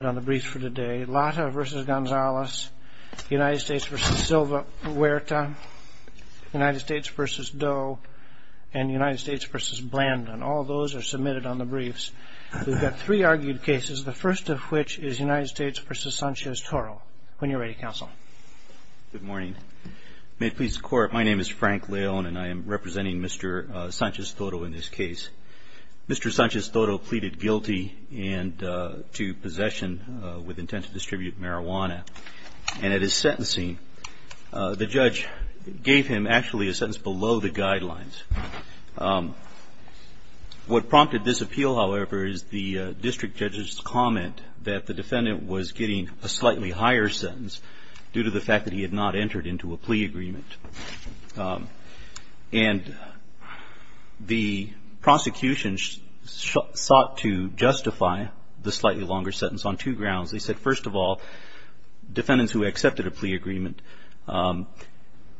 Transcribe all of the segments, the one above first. Lata v. Gonzales, U.S. v. Silva Huerta, U.S. v. Doe and U.S. v. Blandon. All those are submitted on the briefs. We've got three argued cases, the first of which is U.S. v. Sanchez-Toro. When you're ready, Counsel. Good morning. May it please the Court, my name is Frank Leone and I am representing Mr. Sanchez-Toro in this case. Mr. Sanchez-Toro pleaded guilty to possession with intent to distribute marijuana and at his sentencing, the judge gave him actually a sentence below the guidelines. What prompted this appeal, however, is the district judge's comment that the defendant was getting a slightly higher sentence due to the fact that he had not entered into a plea agreement. And the prosecution sought to justify the slightly longer sentence on two grounds. They said, first of all, defendants who accepted a plea agreement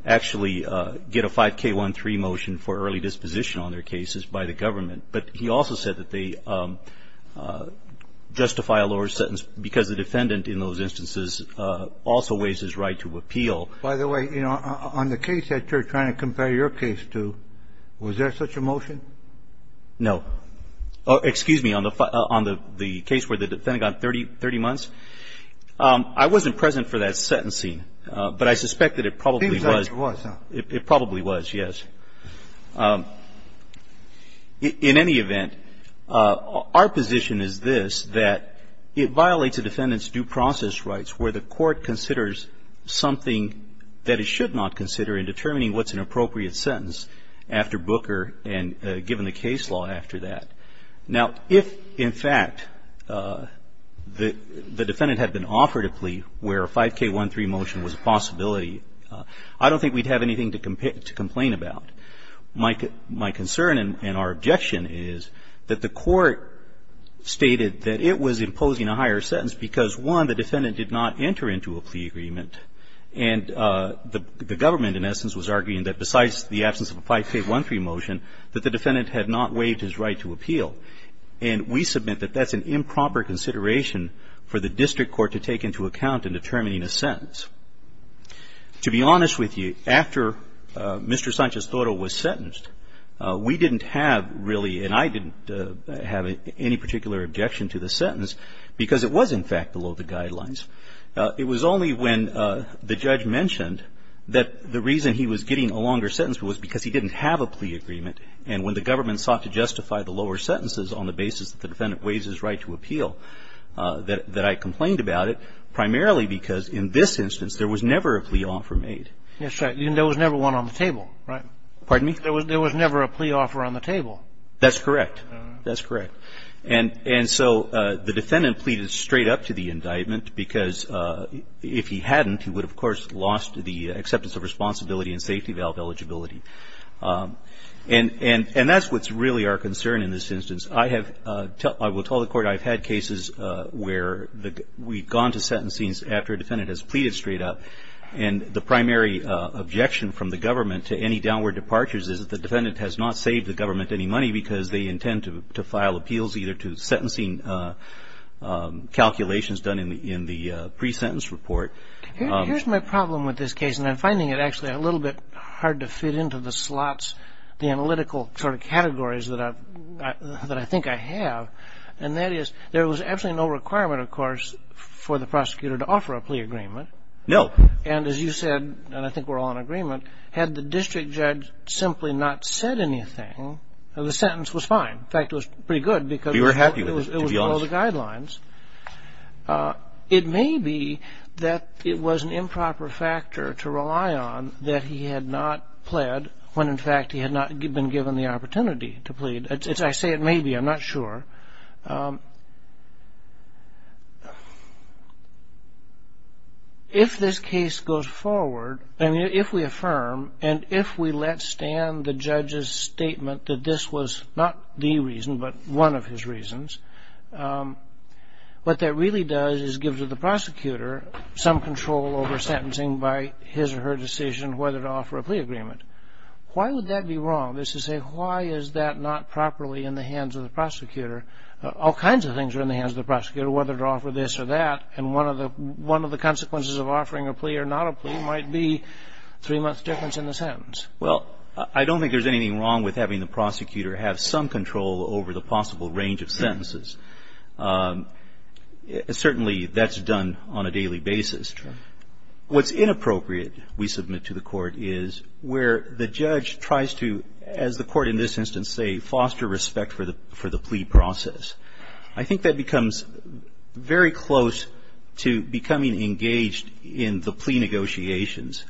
actually get a 5K13 motion for early disposition on their cases by the government. But he also said that they justify a lower sentence because the defendant in those instances also waives his right to appeal. By the way, you know, on the case that you're trying to compare your case to, was there such a motion? No. Excuse me. On the case where the defendant got 30 months, I wasn't present for that sentencing, but I suspect that it probably was. It probably was, yes. In any event, our position is this, that it violates a defendant's due process rights where the court considers something that it should not consider in determining what's an appropriate sentence after Booker and given the case law after that. Now, if, in fact, the defendant had been offered a plea where a 5K13 motion was a possibility, I don't think we'd have anything to complain about. My concern and our objection is that the court stated that it was imposing a higher sentence because, one, the defendant did not enter into a plea agreement, and the government, in essence, was arguing that besides the absence of a 5K13 motion, that the defendant had not waived his right to appeal. And we submit that that's an improper consideration for the district To be honest with you, after Mr. Sanchez-Toro was sentenced, we didn't have really and I didn't have any particular objection to the sentence because it was, in fact, below the guidelines. It was only when the judge mentioned that the reason he was getting a longer sentence was because he didn't have a plea agreement, and when the government sought to justify the lower sentences on the basis that the defendant waives his right to appeal, that I complained about it, primarily because, in this instance, there was never a plea offer made. Yes, sir. There was never one on the table, right? Pardon me? There was never a plea offer on the table. That's correct. That's correct. And so the defendant pleaded straight up to the indictment because if he hadn't, he would have, of course, lost the acceptance of responsibility and safety valve eligibility. And that's what's really our concern in this instance. I have, I will tell the court I've had cases where we've gone to sentencing after a defendant has pleaded straight up, and the primary objection from the government to any downward departures is that the defendant has not saved the government any money because they intend to file appeals either to sentencing calculations done in the pre-sentence report. Here's my problem with this case, and I'm finding it actually a little bit hard to categories that I think I have, and that is there was absolutely no requirement, of course, for the prosecutor to offer a plea agreement. No. And as you said, and I think we're all in agreement, had the district judge simply not said anything, the sentence was fine. In fact, it was pretty good because We were happy with it, to be honest. it was below the guidelines. It may be that it was an improper factor to rely on that he had not pled when, in fact, he had not been given the opportunity to plead. I say it may be, I'm not sure. If this case goes forward, and if we affirm, and if we let stand the judge's statement that this was not the reason, but one of his reasons, what that really does is give the prosecutor some control over sentencing by his or her decision whether to offer a plea agreement. Why would that be wrong? This is a why is that not properly in the hands of the prosecutor? All kinds of things are in the hands of the prosecutor, whether to offer this or that, and one of the consequences of offering a plea or not a plea might be three months' difference in the sentence. Well, I don't think there's anything wrong with having the prosecutor have some control over the possible range of sentences. Certainly, that's done on a daily basis. Sure. What's inappropriate, we submit to the court, is where the judge tries to, as the court in this instance say, foster respect for the plea process. I think that becomes very close to becoming engaged in the plea negotiations.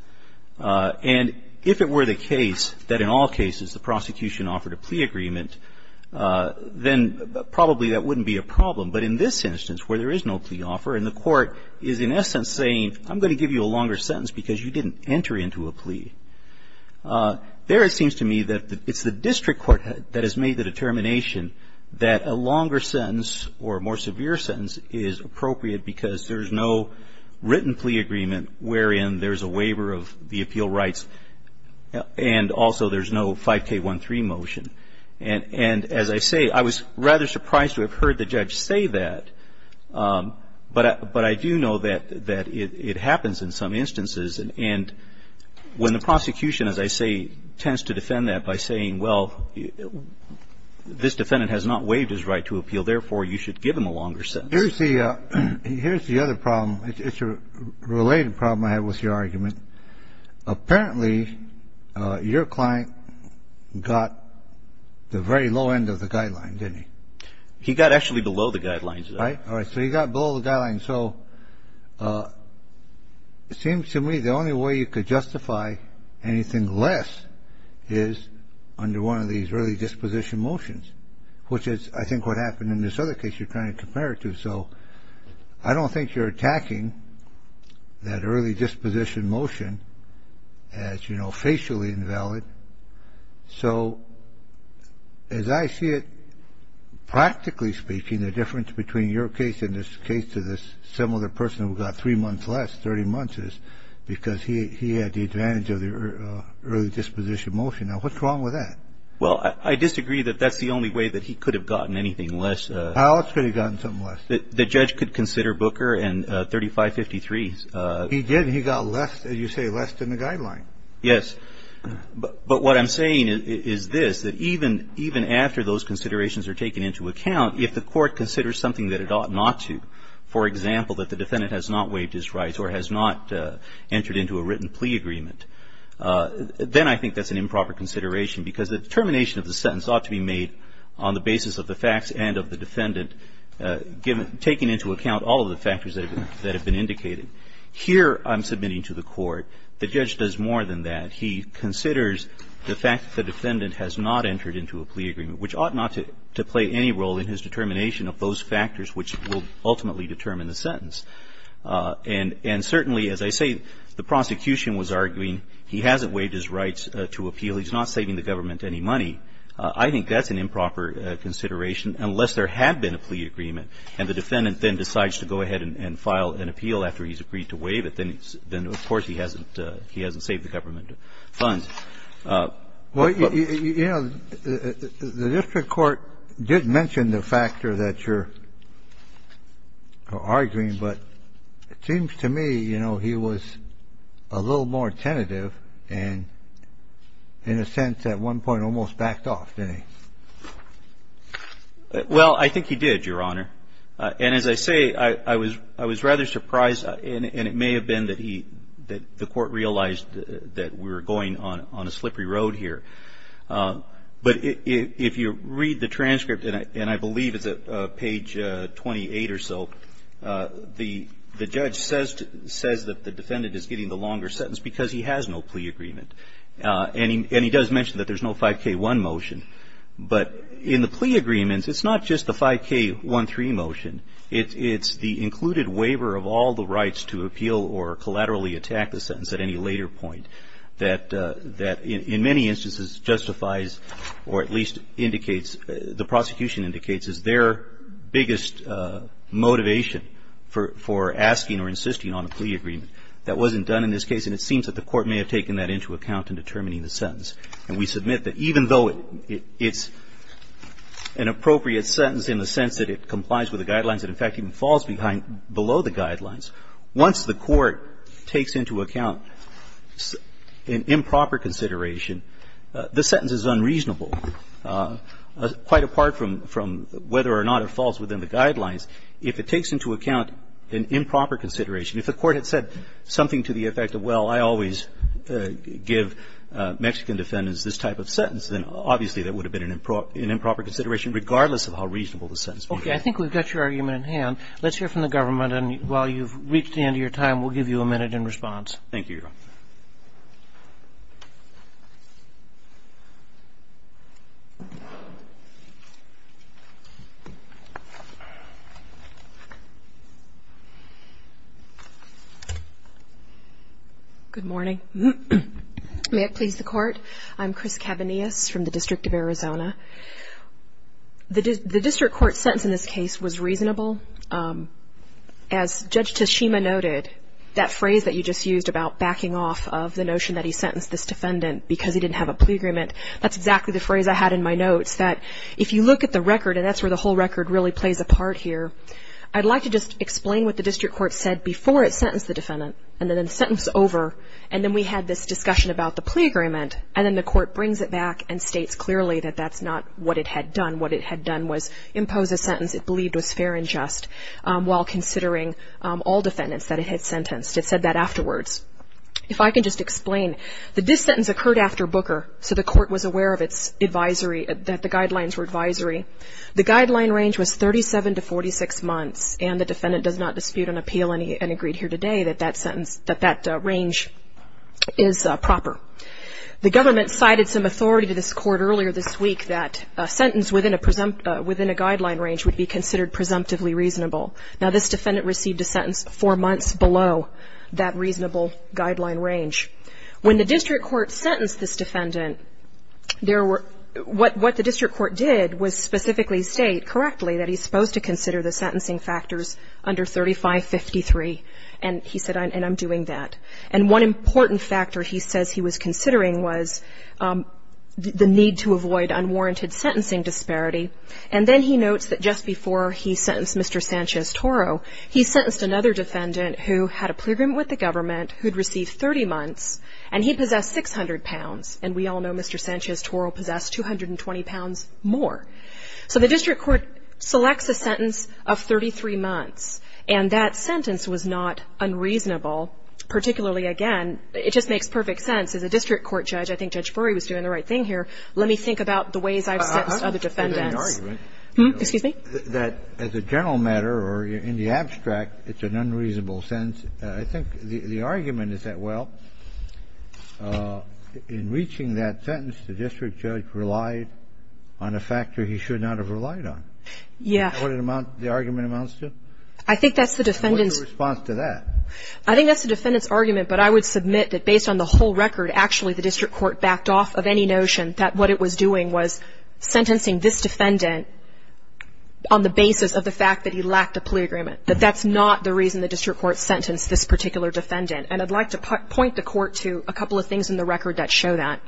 And if it were the case that in all cases the prosecution offered a plea agreement, then probably that wouldn't be a problem. But in this instance, where there is no plea offer, and the court is in essence saying, I'm going to give you a longer sentence because you didn't enter into a plea. There it seems to me that it's the district court that has made the determination that a longer sentence or a more severe sentence is appropriate because there's no written plea agreement wherein there's a waiver of the appeal rights and also there's no 5K13 motion. And as I say, I was rather surprised to have heard the judge say that. But I do know that it happens in some instances. And when the prosecution, as I say, tends to defend that by saying, well, this defendant has not waived his right to appeal, therefore you should give him a longer sentence. Here's the other problem. It's a related problem I have with your argument. Apparently, your client got the very low end of the guideline, didn't he? He got actually below the guidelines. Right. All right. So he got below the guidelines. So it seems to me the only way you could justify anything less is under one of these early disposition motions, which is I think what happened in this other case you're trying to compare it to. So I don't think you're attacking that early disposition motion as, you know, facially invalid. So as I see it, practically speaking, the difference between your case and this case to this similar person who got three months less, 30 months is because he had the advantage of the early disposition motion. Now, what's wrong with that? Well, I disagree that that's the only way that he could have gotten anything less. Alex could have gotten something less. The judge could consider Booker and 3553. He did. He got less, as you say, less than the guideline. Yes. But what I'm saying is this, that even after those considerations are taken into account, if the court considers something that it ought not to, for example, that the defendant has not waived his rights or has not entered into a written plea agreement, then I think that's an improper consideration because the determination of the sentence ought to be made on the basis of the facts and of the defendant, taking into account all of the factors that have been indicated. Here, I'm submitting to the court, the judge does more than that. He considers the fact that the defendant has not entered into a plea agreement, which ought not to play any role in his determination of those factors which will ultimately determine the sentence. And certainly, as I say, the prosecution was arguing he hasn't waived his rights to appeal. He's not saving the government any money. I think that's an improper consideration unless there had been a plea agreement and the defendant then decides to go ahead and file an appeal after he's agreed to waive it. Then, of course, he hasn't saved the government funds. Well, you know, the district court did mention the factor that you're arguing, but it seems to me, you know, he was a little more tentative and in a sense, at one point, almost backed off, didn't he? Well, I think he did, Your Honor. And as I say, I was rather surprised and it may have been that the court realized that we were going on a slippery road here. But if you read the transcript, and I believe it's at page 28 or so, the judge says that the defendant is getting the longer sentence because he has no plea agreement. And he does mention that there's no 5K1 motion. But in the plea agreements, it's not just the 5K13 motion. It's the included waiver of all the rights to appeal or collaterally attack the sentence at any later point that, in many instances, justifies or at least indicates, the prosecution indicates, is their biggest motivation for asking or insisting on a plea agreement. And so the judge is saying that the court has an improper consideration that wasn't done in this case and it seems that the court may have taken that into account in determining the sentence. And we submit that even though it's an appropriate sentence in the sense that it complies with the Guidelines, it in fact even falls behind below the Guidelines, once the court takes into account an improper consideration, the sentence is unreasonable, quite apart from whether or not it falls within the Guidelines, if it takes into account an improper consideration. If the court had said something to the effect of, well, I always give Mexican defendants this type of sentence, then obviously that would have been an improper consideration, regardless of how reasonable the sentence may be. Okay. I think we've got your argument in hand. Let's hear from the government and while you've reached the end of your time, we'll give you a minute in response. Thank you, Your Honor. Good morning. May it please the Court? I'm Chris Cavanius from the District of Arizona. The District Court's sentence in this case was reasonable. As Judge Teshima noted, that phrase that you just used about backing off of the notion that he sentenced this defendant because he didn't have a plea agreement, that's exactly the phrase I had in my notes, that if you look at the record, and that's where the whole record really plays a part here, I'd like to just explain what the District Court said before it sentenced the defendant, and then the sentence over, and then we had this discussion about the plea agreement, and then the Court brings it back and states clearly that that's not what it had done. What it had done was impose a sentence it believed was fair and just while considering all defendants that it had sentenced. It said that afterwards. If I can just explain that this sentence occurred after Booker, so the Court was aware of its advisory, that the guidelines were advisory. The guideline range was 37 to 46 months, and the defendant does not dispute an appeal and agreed here today that that sentence, that that range is proper. The government cited some authority to this Court earlier this week that a sentence within a guideline range would be considered presumptively reasonable. Now this defendant received a sentence four months below that reasonable guideline range. When the District Court sentenced this defendant, what the District Court did was specifically state correctly that he's supposed to consider the sentencing factors under 3553. And he said, and I'm doing that. And one important factor he says he was considering was the need to avoid unwarranted sentencing disparity. And then he notes that just before he sentenced Mr. Sanchez-Toro, he sentenced another defendant who had a plea agreement with the government, who'd received 30 months, and he possessed 600 pounds. And we all know Mr. Sanchez-Toro possessed 220 pounds more. So the District Court selects a sentence of 33 months. And that sentence was not unreasonable, particularly, again, it just makes perfect sense. As a District Court judge, I think Judge Brewery was doing the right thing here. Let me think about the ways I've sentenced other defendants. Excuse me? That as a general matter or in the abstract, it's an unreasonable sentence. I think the argument is that, well, in reaching that sentence, the district judge relied on a factor he should not have relied on. Yeah. What the argument amounts to? I think that's the defendant's What's your response to that? I think that's the defendant's argument. But I would submit that based on the whole record, actually, the District Court backed off of any notion that what it was doing was sentencing this defendant on the basis of the fact that he lacked a plea agreement, that that's not the reason the District Court sentenced this particular defendant. And I'd like to point the Court to a couple of things in the record that show that.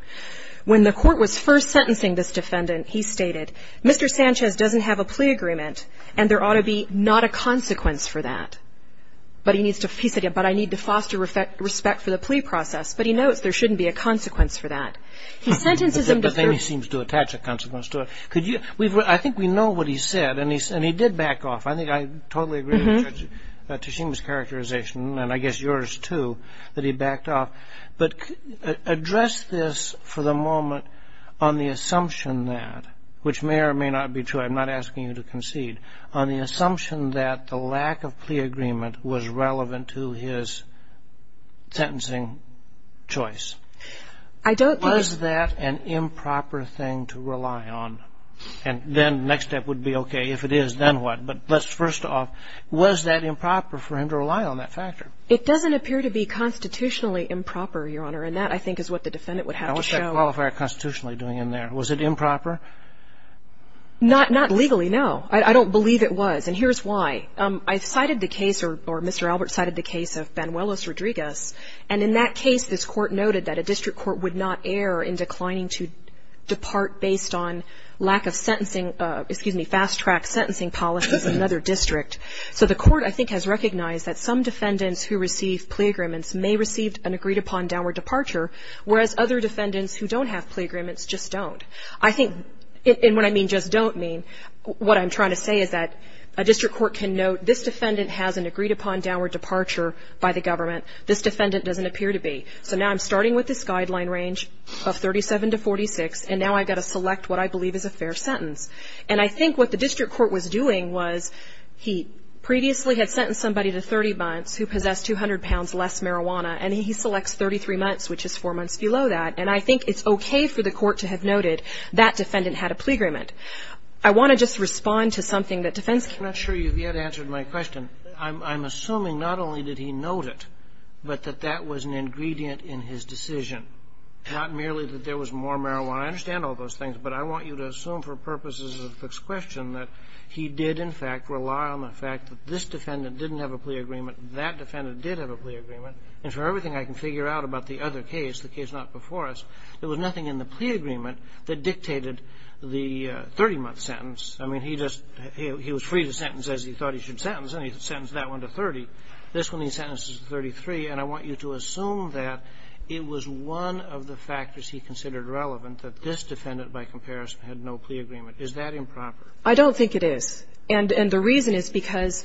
When the Court was first sentencing this defendant, he stated, Mr. Sanchez doesn't have a plea agreement, and there ought to be not a consequence for that. But he needs to he said, but I need to foster respect for the plea process. But he knows there shouldn't be a consequence for that. He sentences him to But then he seems to attach a consequence to it. I think we know what he said, and he did back off. I think I totally agree with Tashima's characterization, and I guess yours, too, that he backed off. But address this for the moment on the assumption that, which may or may not be true, I'm not asking you to concede, on the assumption that the lack of plea agreement was relevant to his sentencing choice. I don't think And then the next step would be, okay, if it is, then what? But let's first off, was that improper for him to rely on that factor? It doesn't appear to be constitutionally improper, Your Honor, and that, I think, is what the defendant would have to show. Now, what's that qualifier constitutionally doing in there? Was it improper? Not legally, no. I don't believe it was. And here's why. I cited the case, or Mr. Albert cited the case of Banuelos-Rodriguez. And in that case, this Court noted that a district court would not err in declining to depart based on lack of sentencing, excuse me, fast-track sentencing policies in another district. So the Court, I think, has recognized that some defendants who receive plea agreements may receive an agreed-upon downward departure, whereas other defendants who don't have plea agreements just don't. I think, and when I mean just don't mean, what I'm trying to say is that a district court can note, this defendant has an agreed-upon downward departure by the government. This defendant doesn't appear to be. So now I'm starting with this guideline range of 37 to 46, and now I've got to select what I believe is a fair sentence. And I think what the district court was doing was he previously had sentenced somebody to 30 months who possessed 200 pounds less marijuana, and he selects 33 months, which is four months below that. And I think it's okay for the court to have noted that defendant had a plea agreement. I want to just respond to something that defense can't. I'm not sure you've yet answered my question. I'm assuming not only did he note it, but that that was an ingredient in his decision, not merely that there was more marijuana. I understand all those things, but I want you to assume for purposes of this question that he did, in fact, rely on the fact that this defendant didn't have a plea agreement and that defendant did have a plea agreement. And for everything I can figure out about the other case, the case not before us, there was nothing in the plea agreement that dictated the 30-month sentence. I mean, he just he was free to sentence as he thought he should sentence, and he sentenced that one to 30. This one he sentenced to 33. And I want you to assume that it was one of the factors he considered relevant, that this defendant, by comparison, had no plea agreement. Is that improper? I don't think it is. And the reason is because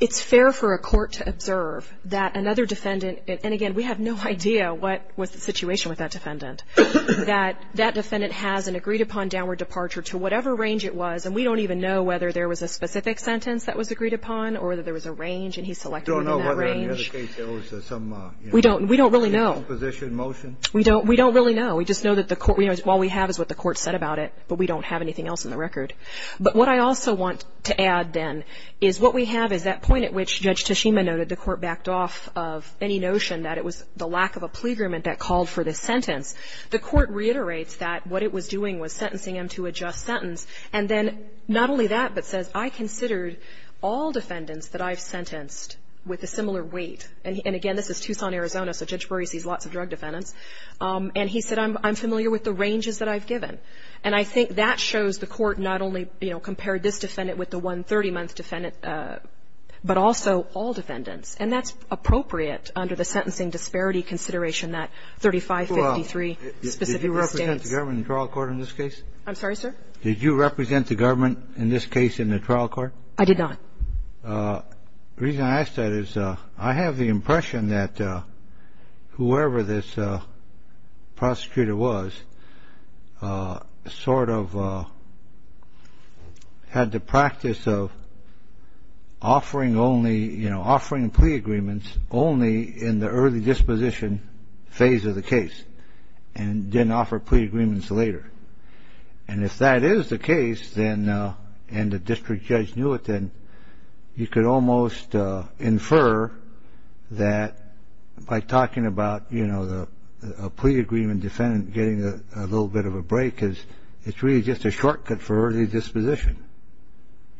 it's fair for a court to observe that another defendant and, again, we have no idea what was the situation with that defendant, that that defendant has an agreed-upon downward departure to whatever range it was, and we don't even know whether there was a specific sentence that was agreed upon or whether there was a range, and he's selecting that range. We don't really know. We don't really know. We just know that the court, all we have is what the court said about it, but we don't have anything else in the record. But what I also want to add, then, is what we have is that point at which Judge Tashima noted the court backed off of any notion that it was the lack of a plea agreement that called for this sentence. The court reiterates that what it was doing was sentencing him to a just sentence and then not only that, but says, I considered all defendants that I've sentenced with a similar weight. And, again, this is Tucson, Arizona, so Judge Brewery sees lots of drug defendants. And he said, I'm familiar with the ranges that I've given. And I think that shows the court not only, you know, compared this defendant with the one 30-month defendant, but also all defendants. And that's appropriate under the Sentencing Disparity Consideration, that 3553 specific disdains. Kennedy, did you represent the government in trial court in this case? I'm sorry, sir? Did you represent the government in this case in the trial court? I did not. The reason I ask that is I have the impression that whoever this prosecutor was sort of had the practice of offering only, you know, offering plea agreements only in the early disposition phase of the case and didn't offer plea agreements later. And if that is the case and the district judge knew it, then you could almost infer that by talking about, you know, a plea agreement defendant getting a little bit of a break, it's really just a shortcut for early disposition.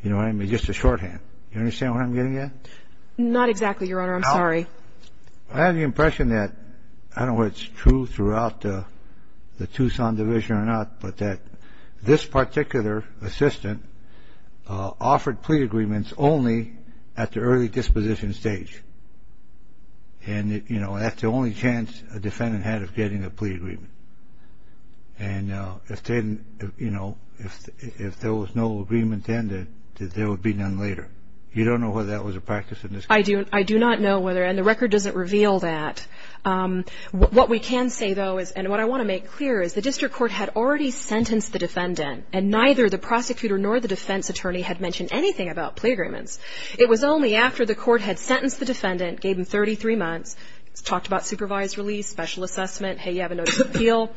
You know what I mean? Just a shorthand. You understand what I'm getting at? Not exactly, Your Honor. I'm sorry. I have the impression that, I don't know if it's true throughout the Tucson division or not, but that this particular assistant offered plea agreements only at the early disposition stage. And, you know, that's the only chance a defendant had of getting a plea agreement. And, you know, if there was no agreement then, then there would be none later. You don't know whether that was a practice in this case. I do not know whether, and the record doesn't reveal that. What we can say, though, and what I want to make clear is the district court had already sentenced the defendant, and neither the prosecutor nor the defense attorney had mentioned anything about plea agreements. It was only after the court had sentenced the defendant, gave him 33 months, talked about supervised release, special assessment, hey, you have a notice of appeal,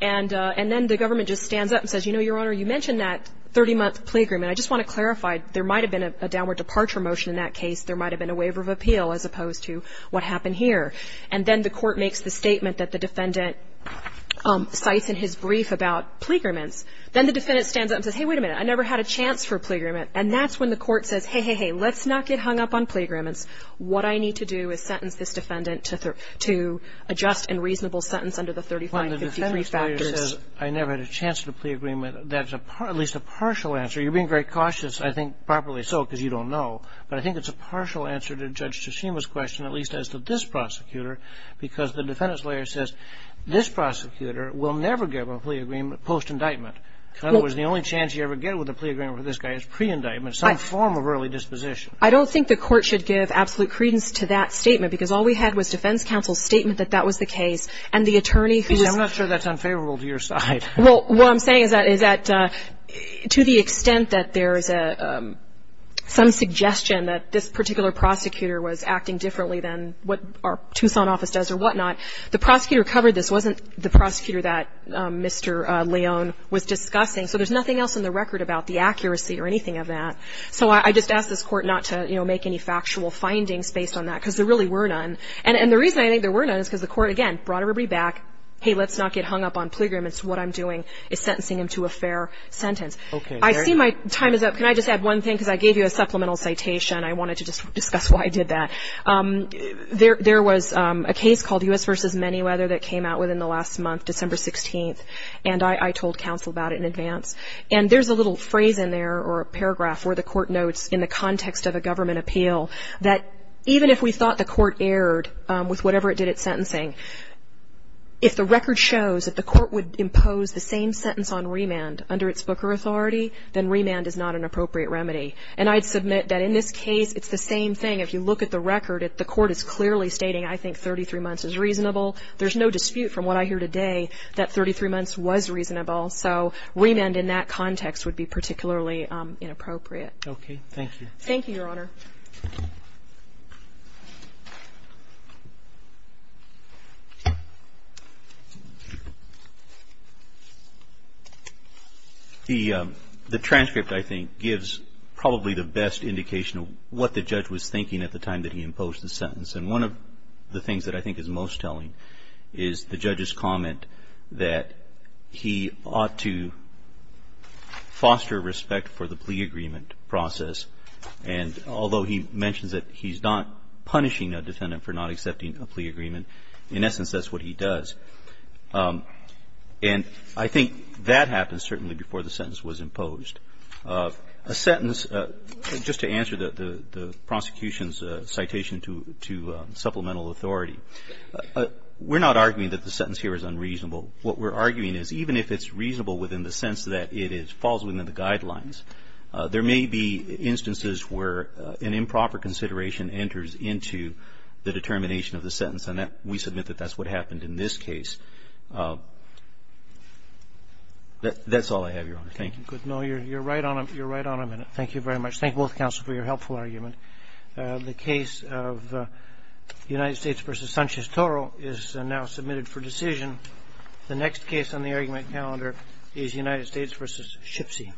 and then the government just stands up and says, you know, Your Honor, you mentioned that 30-month plea agreement. I just want to clarify, there might have been a downward departure motion in that case. There might have been a waiver of appeal as opposed to what happened here. And then the court makes the statement that the defendant cites in his brief about plea agreements. Then the defendant stands up and says, hey, wait a minute, I never had a chance for a plea agreement. And that's when the court says, hey, hey, hey, let's not get hung up on plea agreements. What I need to do is sentence this defendant to adjust and reasonable sentence under the 35 and 53 factors. Kagan. Well, the defendant's lawyer says, I never had a chance for a plea agreement. That's at least a partial answer. You're being very cautious, I think, probably so, because you don't know. But I think it's a partial answer to Judge Tsushima's question, at least as to this prosecutor, because the defendant's lawyer says, this prosecutor will never get a plea agreement post-indictment. In other words, the only chance you ever get with a plea agreement with this guy is pre-indictment, some form of early disposition. I don't think the court should give absolute credence to that statement, because all we had was defense counsel's statement that that was the case, and the attorney who's I'm not sure that's unfavorable to your side. Well, what I'm saying is that to the extent that there is some suggestion that this particular prosecutor was acting differently than what our Tucson office does or whatnot, the prosecutor who covered this wasn't the prosecutor that Mr. Leon was discussing. So there's nothing else in the record about the accuracy or anything of that. So I just ask this court not to, you know, make any factual findings based on that, because there really were none. And the reason I think there were none is because the court, again, brought everybody back. Hey, let's not get hung up on plea agreements. What I'm doing is sentencing him to a fair sentence. I see my time is up. Can I just add one thing? Because I gave you a supplemental citation. I wanted to discuss why I did that. There was a case called U.S. v. Manyweather that came out within the last month, December 16th, and I told counsel about it in advance. And there's a little phrase in there or a paragraph where the court notes in the context of a government appeal that even if we thought the court erred with whatever it did at sentencing, if the record shows that the court would impose the same sentence on remand under its Booker authority, then remand is not an appropriate remedy. And I'd submit that in this case it's the same thing. If you look at the record, the court is clearly stating I think 33 months is reasonable. There's no dispute from what I hear today that 33 months was reasonable. So remand in that context would be particularly inappropriate. Thank you. Thank you, Your Honor. The transcript, I think, gives probably the best indication of what the judge was thinking at the time that he imposed the sentence. And one of the things that I think is most telling is the judge's comment that he ought to punish a defendant for not accepting a plea agreement. In essence, that's what he does. And I think that happens certainly before the sentence was imposed. A sentence, just to answer the prosecution's citation to supplemental authority, we're not arguing that the sentence here is unreasonable. What we're arguing is even if it's reasonable within the sense that it falls within the sentence, an improper consideration enters into the determination of the sentence. And we submit that that's what happened in this case. That's all I have, Your Honor. Thank you. Good. No, you're right on a minute. Thank you very much. Thank both counsel for your helpful argument. The case of United States v. Sanchez-Toro is now submitted for decision. The next case on the argument calendar is United States v. Schipsy.